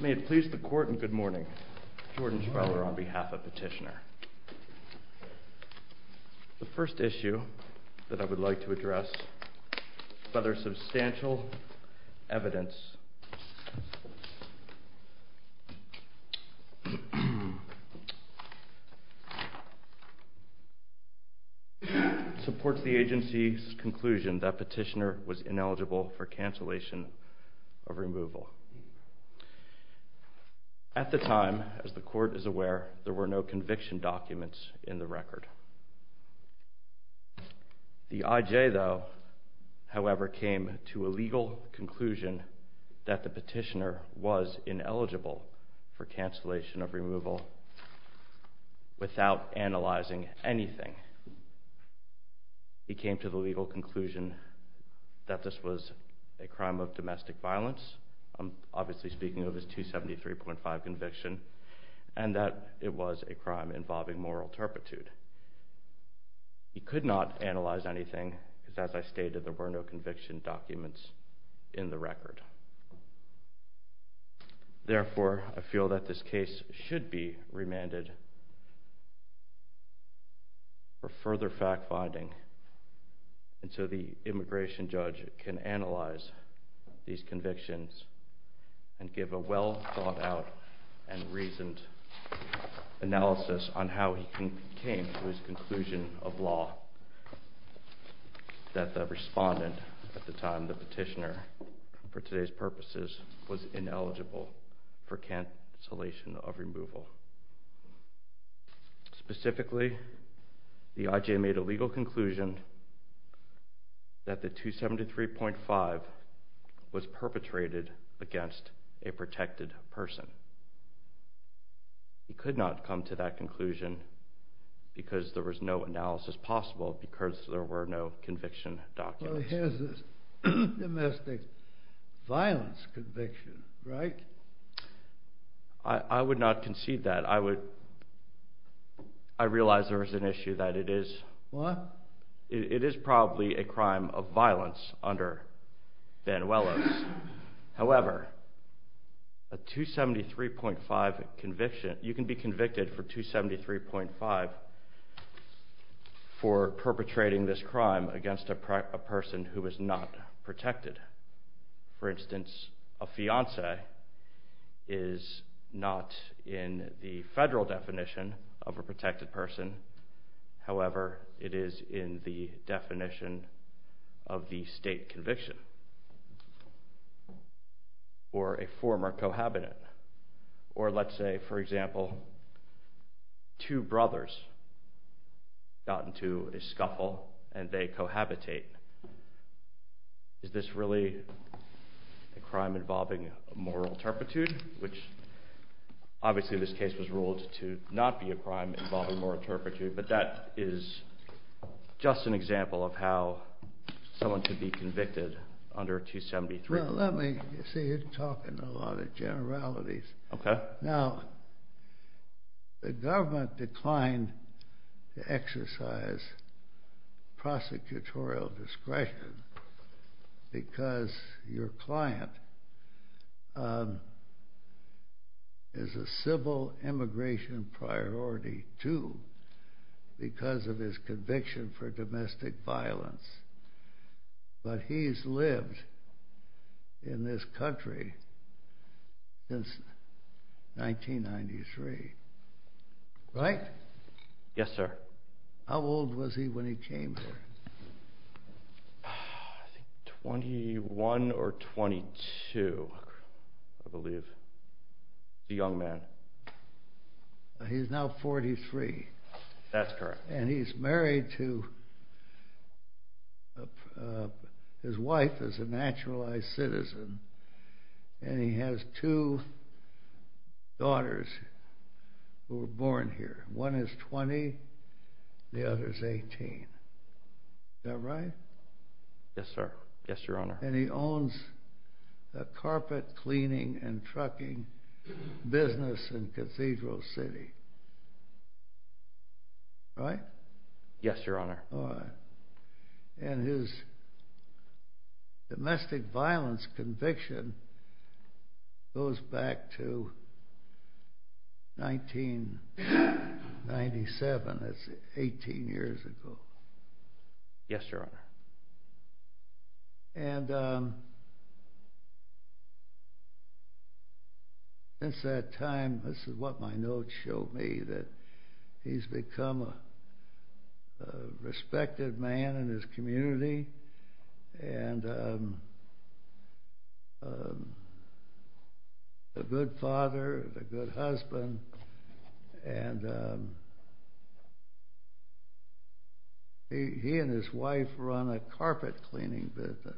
May it please the court and good morning. Jordan Schreuler on behalf of Petitioner. The first issue that I would like to address, further substantial evidence supports the agency's conclusion that Petitioner was ineligible for cancellation of removal. At the time, as the court is aware, there were no conviction documents in the record. The IJ, though, however, came to a legal conclusion that the Petitioner was ineligible for cancellation of removal without analyzing anything. He came to the legal conclusion that this was a crime of domestic violence, obviously speaking of his 273.5 conviction, and that it was a crime involving moral turpitude. He could not analyze anything because, as I stated, there were no conviction documents in the record. Therefore, I feel that this case should be remanded for further fact-finding until the immigration judge can analyze these convictions and give a well-thought-out and reasoned analysis on how he came to his conclusion of law that the respondent at the time, the Petitioner, for today's purposes, was ineligible for cancellation of removal. Specifically, the IJ made a legal conclusion that the 273.5 was perpetrated against a protected person. He could not come to that conclusion because there was no analysis possible because there were no conviction documents. I would not concede that. I realize there is an issue that it is probably a crime of violence under Banuelos. However, a 273.5 conviction, you can be convicted for 273.5 for perpetrating this crime against a person who is not protected. For instance, a fiancé is not in the federal definition of a protected person. However, it is in the definition of the state conviction for a former cohabitant. Or let's say, for example, two brothers got into a scuffle and they cohabitate. Is this really a crime involving moral turpitude? Obviously, this case was ruled to not be a crime involving moral turpitude, but that is just an example of how someone could be convicted under 273. The government declined to exercise prosecutorial discretion because your client is a civil immigration priority, too, because of his conviction for domestic violence. But he has lived in this country since 1993. Right? Yes, sir. How old was he when he came here? I think 21 or 22, I believe. He's a young man. He's now 43. That's correct. And he's married to his wife as a naturalized citizen, and he has two daughters who were 18. Is that right? Yes, sir. Yes, Your Honor. And he owns a carpet cleaning and trucking business in Cathedral City. Right? Yes, Your Honor. And his domestic violence conviction goes back to 1897. That's 18 years ago. Yes, Your Honor. Since that time, this is what my notes show me, that he's become a respected man in his community, and a good father, a good husband, and he and his wife run a carpet cleaning business.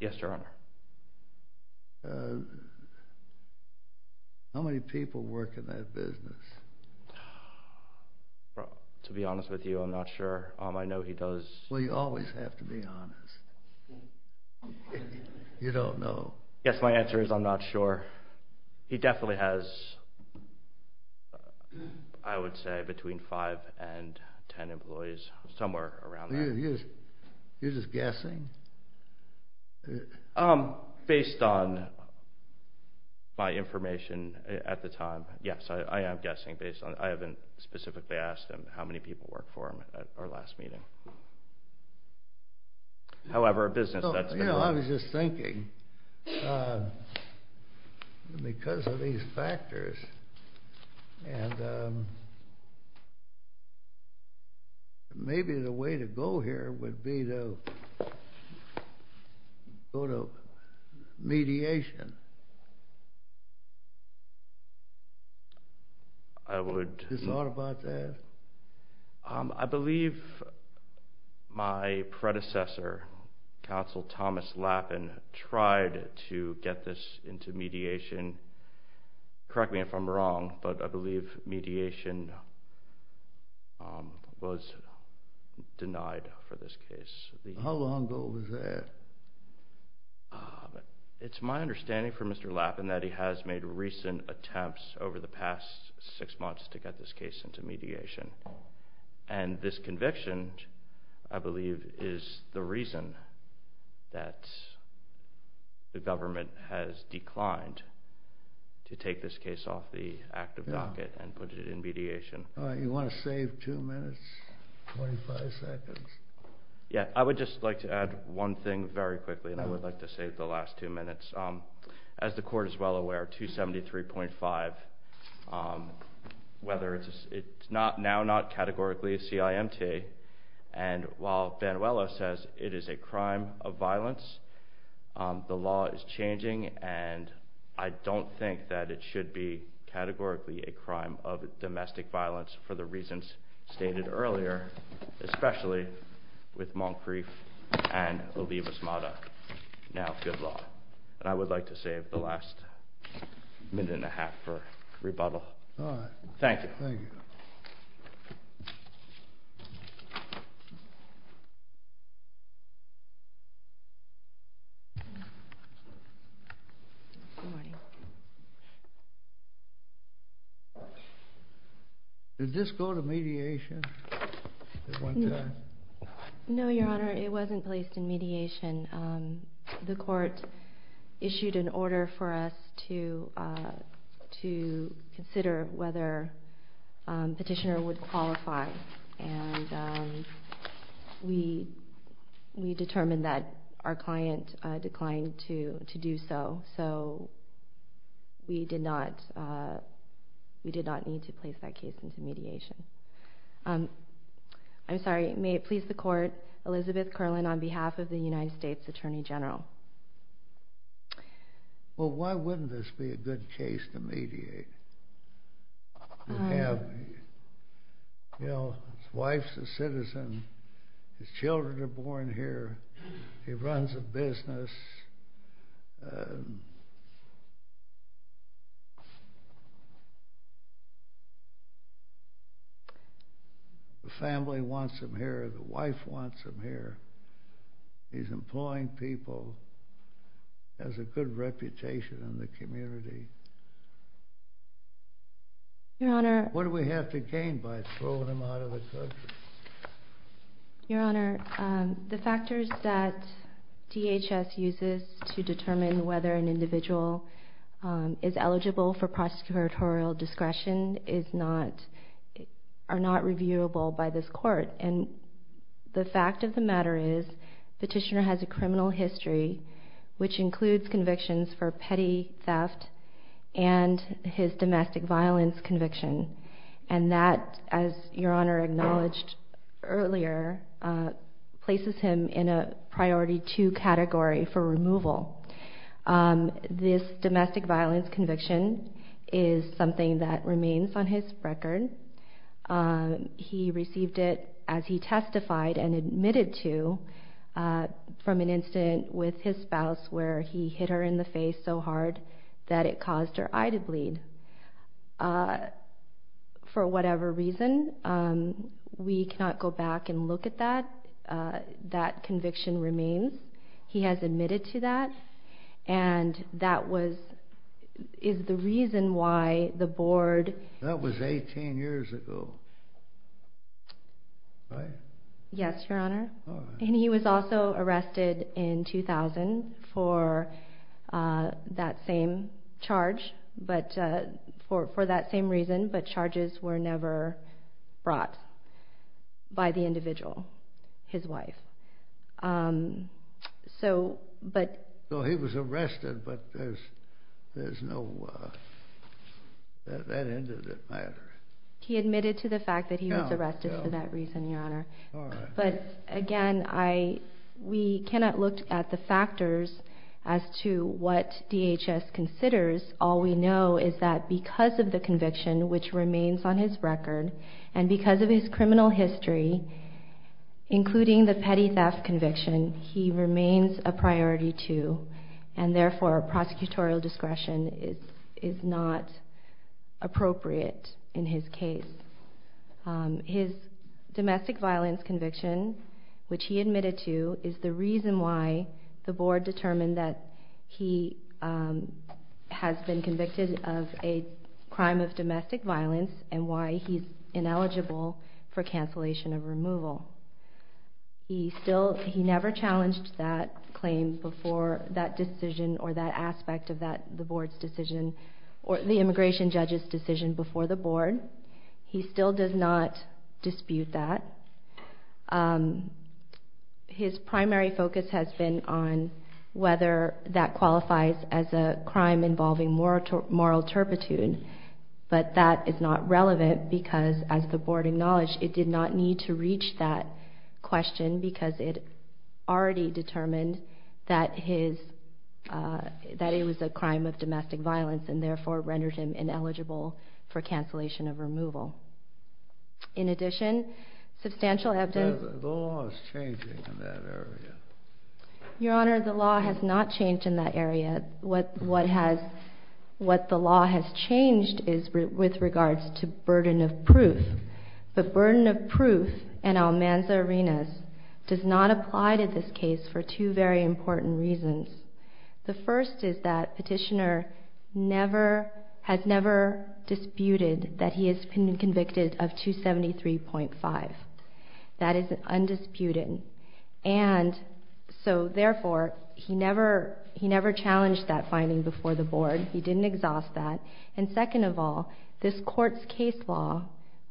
Yes, Your Honor. How many people work in that business? To be honest with you, I'm not sure. I know he does. Well, you always have to be honest. You don't know. Yes, my answer is I'm not sure. He definitely has, I would say, between 5 and 10 employees, somewhere around that. You're just guessing? Based on my information at the time, yes, I am guessing. I haven't specifically asked him how many people worked for him at our last meeting. I was just thinking, because of these factors, and maybe the way to go here would be to go to mediation. Have you thought about that? I believe my predecessor, Counsel Thomas Lappin, tried to mediation, was denied for this case. How long ago was that? It's my understanding from Mr. Lappin that he has made recent attempts over the past six months to get this case into mediation, and this conviction, I believe, is the reason that the government has declined to take this case off the active docket and put it in mediation. You want to save two minutes, 25 seconds? Yes, I would just like to add one thing very quickly, and I would like to save the last two minutes. As the Court is well aware, 273.5, it's now not categorically a CIMT, and while it's changing, and I don't think that it should be categorically a crime of domestic violence for the reasons stated earlier, especially with Moncrief and Olivas-Mata. Now, good luck. I would like to save the last minute and a half for rebuttal. Thank you. Good morning. Did this go to mediation at one time? No, Your Honor, it wasn't placed in mediation. The Court issued an order for us to consider whether Petitioner would qualify, and we determined that our client declined to do so, so we did not need to place that case into mediation. I'm sorry, may it please the Court, Elizabeth Kerlin on behalf of the United States Attorney General. Well, why wouldn't this be a good case to mediate? You know, his wife's a citizen. His children are born here. He runs a business. The family wants him here. The wife wants him here. He's employing people. He has a good reputation in the community. What do we have to gain by throwing him out of his country? Your Honor, the factors that DHS uses to determine whether an individual is eligible for prosecutorial discretion are not reviewable by this Court, and the fact of the matter is Petitioner has a criminal history, which includes convictions for petty theft and his domestic violence conviction, and that, as Your Honor acknowledged earlier, places him in a Priority 2 category for removal. This domestic violence conviction is something that remains on his record. He received it as he testified and admitted to from an incident with his spouse where he hit her in the face so hard that it caused her eye to bleed. For whatever reason, we cannot go back and look at that. That conviction remains. He has admitted to that, and that is the reason why the Board... That was 18 years ago, right? Yes, Your Honor, and he was also arrested in 2000 for that same charge, but for that same reason, but charges were never brought by the individual, his wife. So he was arrested, but there's no... That ended the matter. He admitted to the fact that he was arrested for that reason, Your Honor, but again, we cannot look at the factors as to what DHS considers. All we know is that because of the conviction, which remains on his record, a petty theft conviction, he remains a Priority 2, and therefore prosecutorial discretion is not appropriate in his case. His domestic violence conviction, which he admitted to, is the reason why the Board determined that he has been convicted of a crime of domestic violence and why he's ineligible for cancellation of removal. He never challenged that claim before that decision or that aspect of the Board's decision, or the Immigration Judge's decision before the Board. He still does not dispute that. His primary focus has been on whether that qualifies as a punishment because, as the Board acknowledged, it did not need to reach that question because it already determined that it was a crime of domestic violence and therefore rendered him ineligible for cancellation of removal. In addition, substantial evidence... The law is changing in that area. Your Honor, the law has not changed in that area. What the law has changed is with regards to burden of proof. The burden of proof in Almanza-Arenas does not apply to this case for two very important reasons. The first is that Petitioner has never disputed that he has been convicted of 273.5. That is undisputed. And so therefore, he never challenged that finding before the Board. He didn't exhaust that. And second of all, this Court's case law,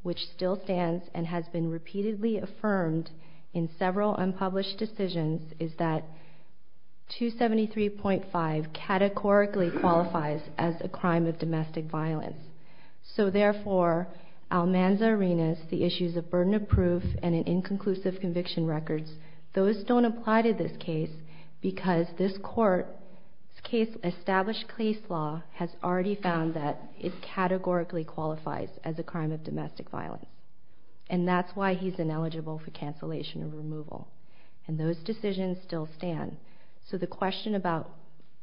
which still stands and has been repeatedly affirmed in several unpublished decisions, is that 273.5 categorically qualifies as a crime of domestic violence. So therefore, Almanza-Arenas, the issues of burden of proof and an inconclusive conviction record, those don't apply to this case because this Court's established case law has already found that it categorically qualifies as a crime of domestic violence. And that's why he's ineligible for cancellation of removal. And those decisions still stand. So the question about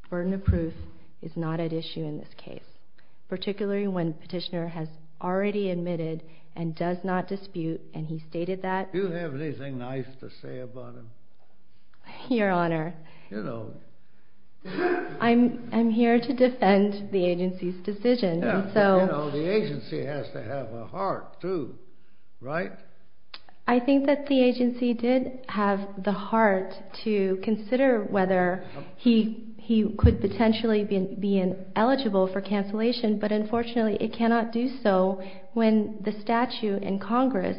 burden of proof is not at issue in this case, particularly when Petitioner has already admitted and does not dispute, and he stated that... Do you have anything nice to say about him? Your Honor, I'm here to defend the agency's decision. The agency has to have a heart too, right? I think that the agency did have the heart to consider whether he could potentially be eligible for cancellation, but unfortunately it cannot do so when the statute in Congress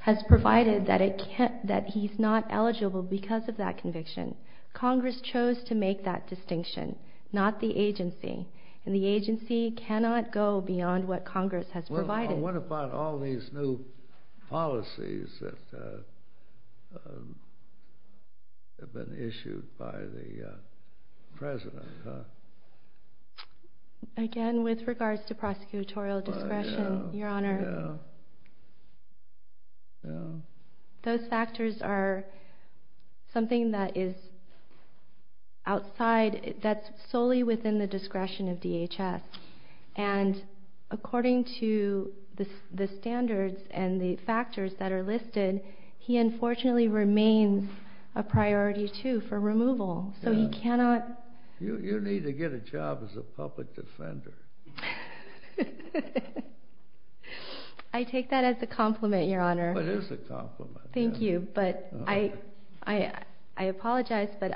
has provided that he's not eligible because of that conviction. Congress chose to make that distinction, not the agency. And the agency cannot go beyond what Congress has provided. Well, what about all these new policies that have been issued by the President? Again, with regards to prosecutorial discretion, Your Honor, those factors are something that is outside, that's solely within the discretion of DHS. And according to the standards and the factors that are listed, he unfortunately remains a priority too for removal, so he cannot... You need to get a job as a public defender. I take that as a compliment, Your Honor. It is a compliment. Thank you, but I apologize, but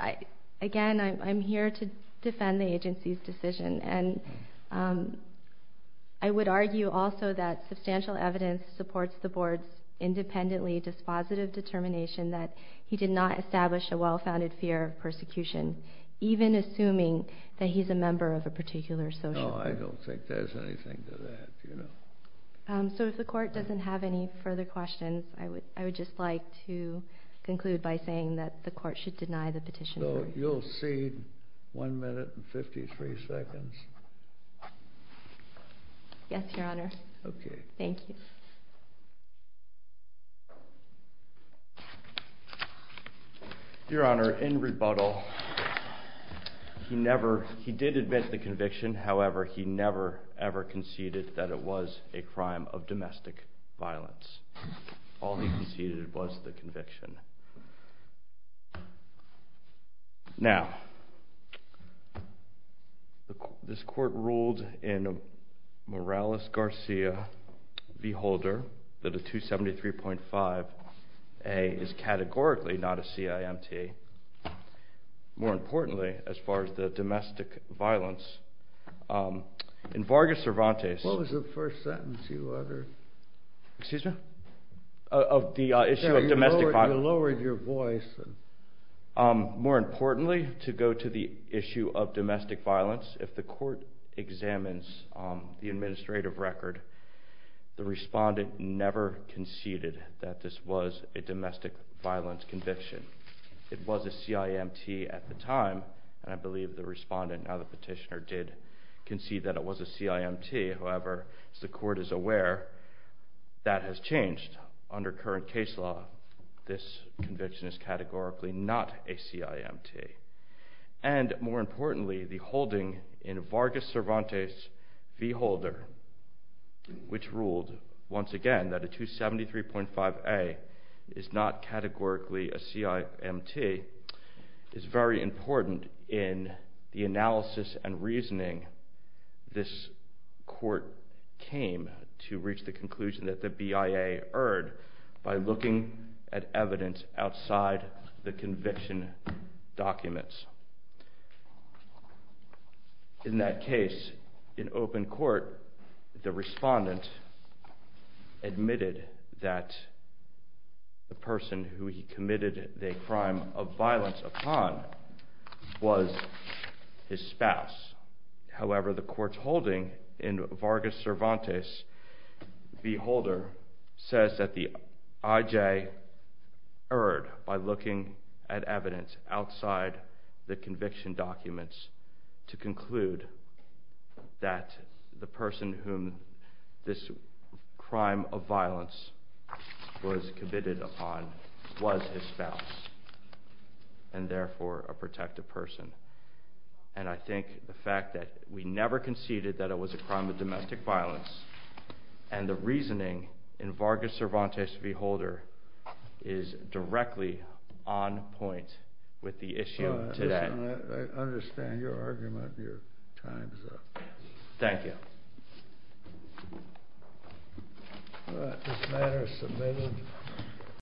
again, I'm here to defend the agency's decision. And I would argue also that substantial evidence supports the Board's independently dispositive determination that he did not establish a well-founded fear of persecution, even assuming that he's a member of a particular social group. No, I don't think there's anything to that. So if the Court doesn't have any further questions, I would just like to conclude by saying that the Court should deny the petition. So you'll cede one minute and 53 seconds? Yes, Your Honor. Okay. Thank you. Your Honor, in rebuttal, he did admit to the conviction. However, he never, ever conceded that it was a crime of domestic violence. All he conceded was the conviction. Now, this Court ruled in Morales-Garcia v. Holder that a 273.5a is categorically not a CIMT. More importantly, as far as the domestic violence, in Vargas-Cervantes... What was the first sentence you uttered? Excuse me? Of the issue of domestic violence. You lowered your voice. More importantly, to go to the issue of domestic violence, if the Court examines the administrative record, the respondent never conceded that this was a domestic violence conviction. It was a CIMT at the time, and I believe the respondent, now the petitioner, did concede that it was a CIMT. However, as the Court is aware, that has changed. Under current case law, this conviction is categorically not a CIMT. And, more importantly, the holding in Vargas-Cervantes v. Holder, which ruled, once again, that a 273.5a is not categorically a CIMT, is very important in the analysis and reasoning this Court came to reach the conclusion that the BIA erred by looking at evidence outside the conviction documents. In that case, in open court, the respondent admitted that the person who he committed the crime of violence upon was his spouse. However, the Court's holding in Vargas-Cervantes v. Holder says that the IJ erred by looking at evidence outside the conviction documents to conclude that the person whom this crime of violence was committed upon was his spouse and, therefore, a protective person. And I think the fact that we never conceded that it was a crime of domestic violence and the reasoning in Vargas-Cervantes v. Holder is directly on point with the issue today. I understand your argument. Your time is up. Thank you. This matter is submitted.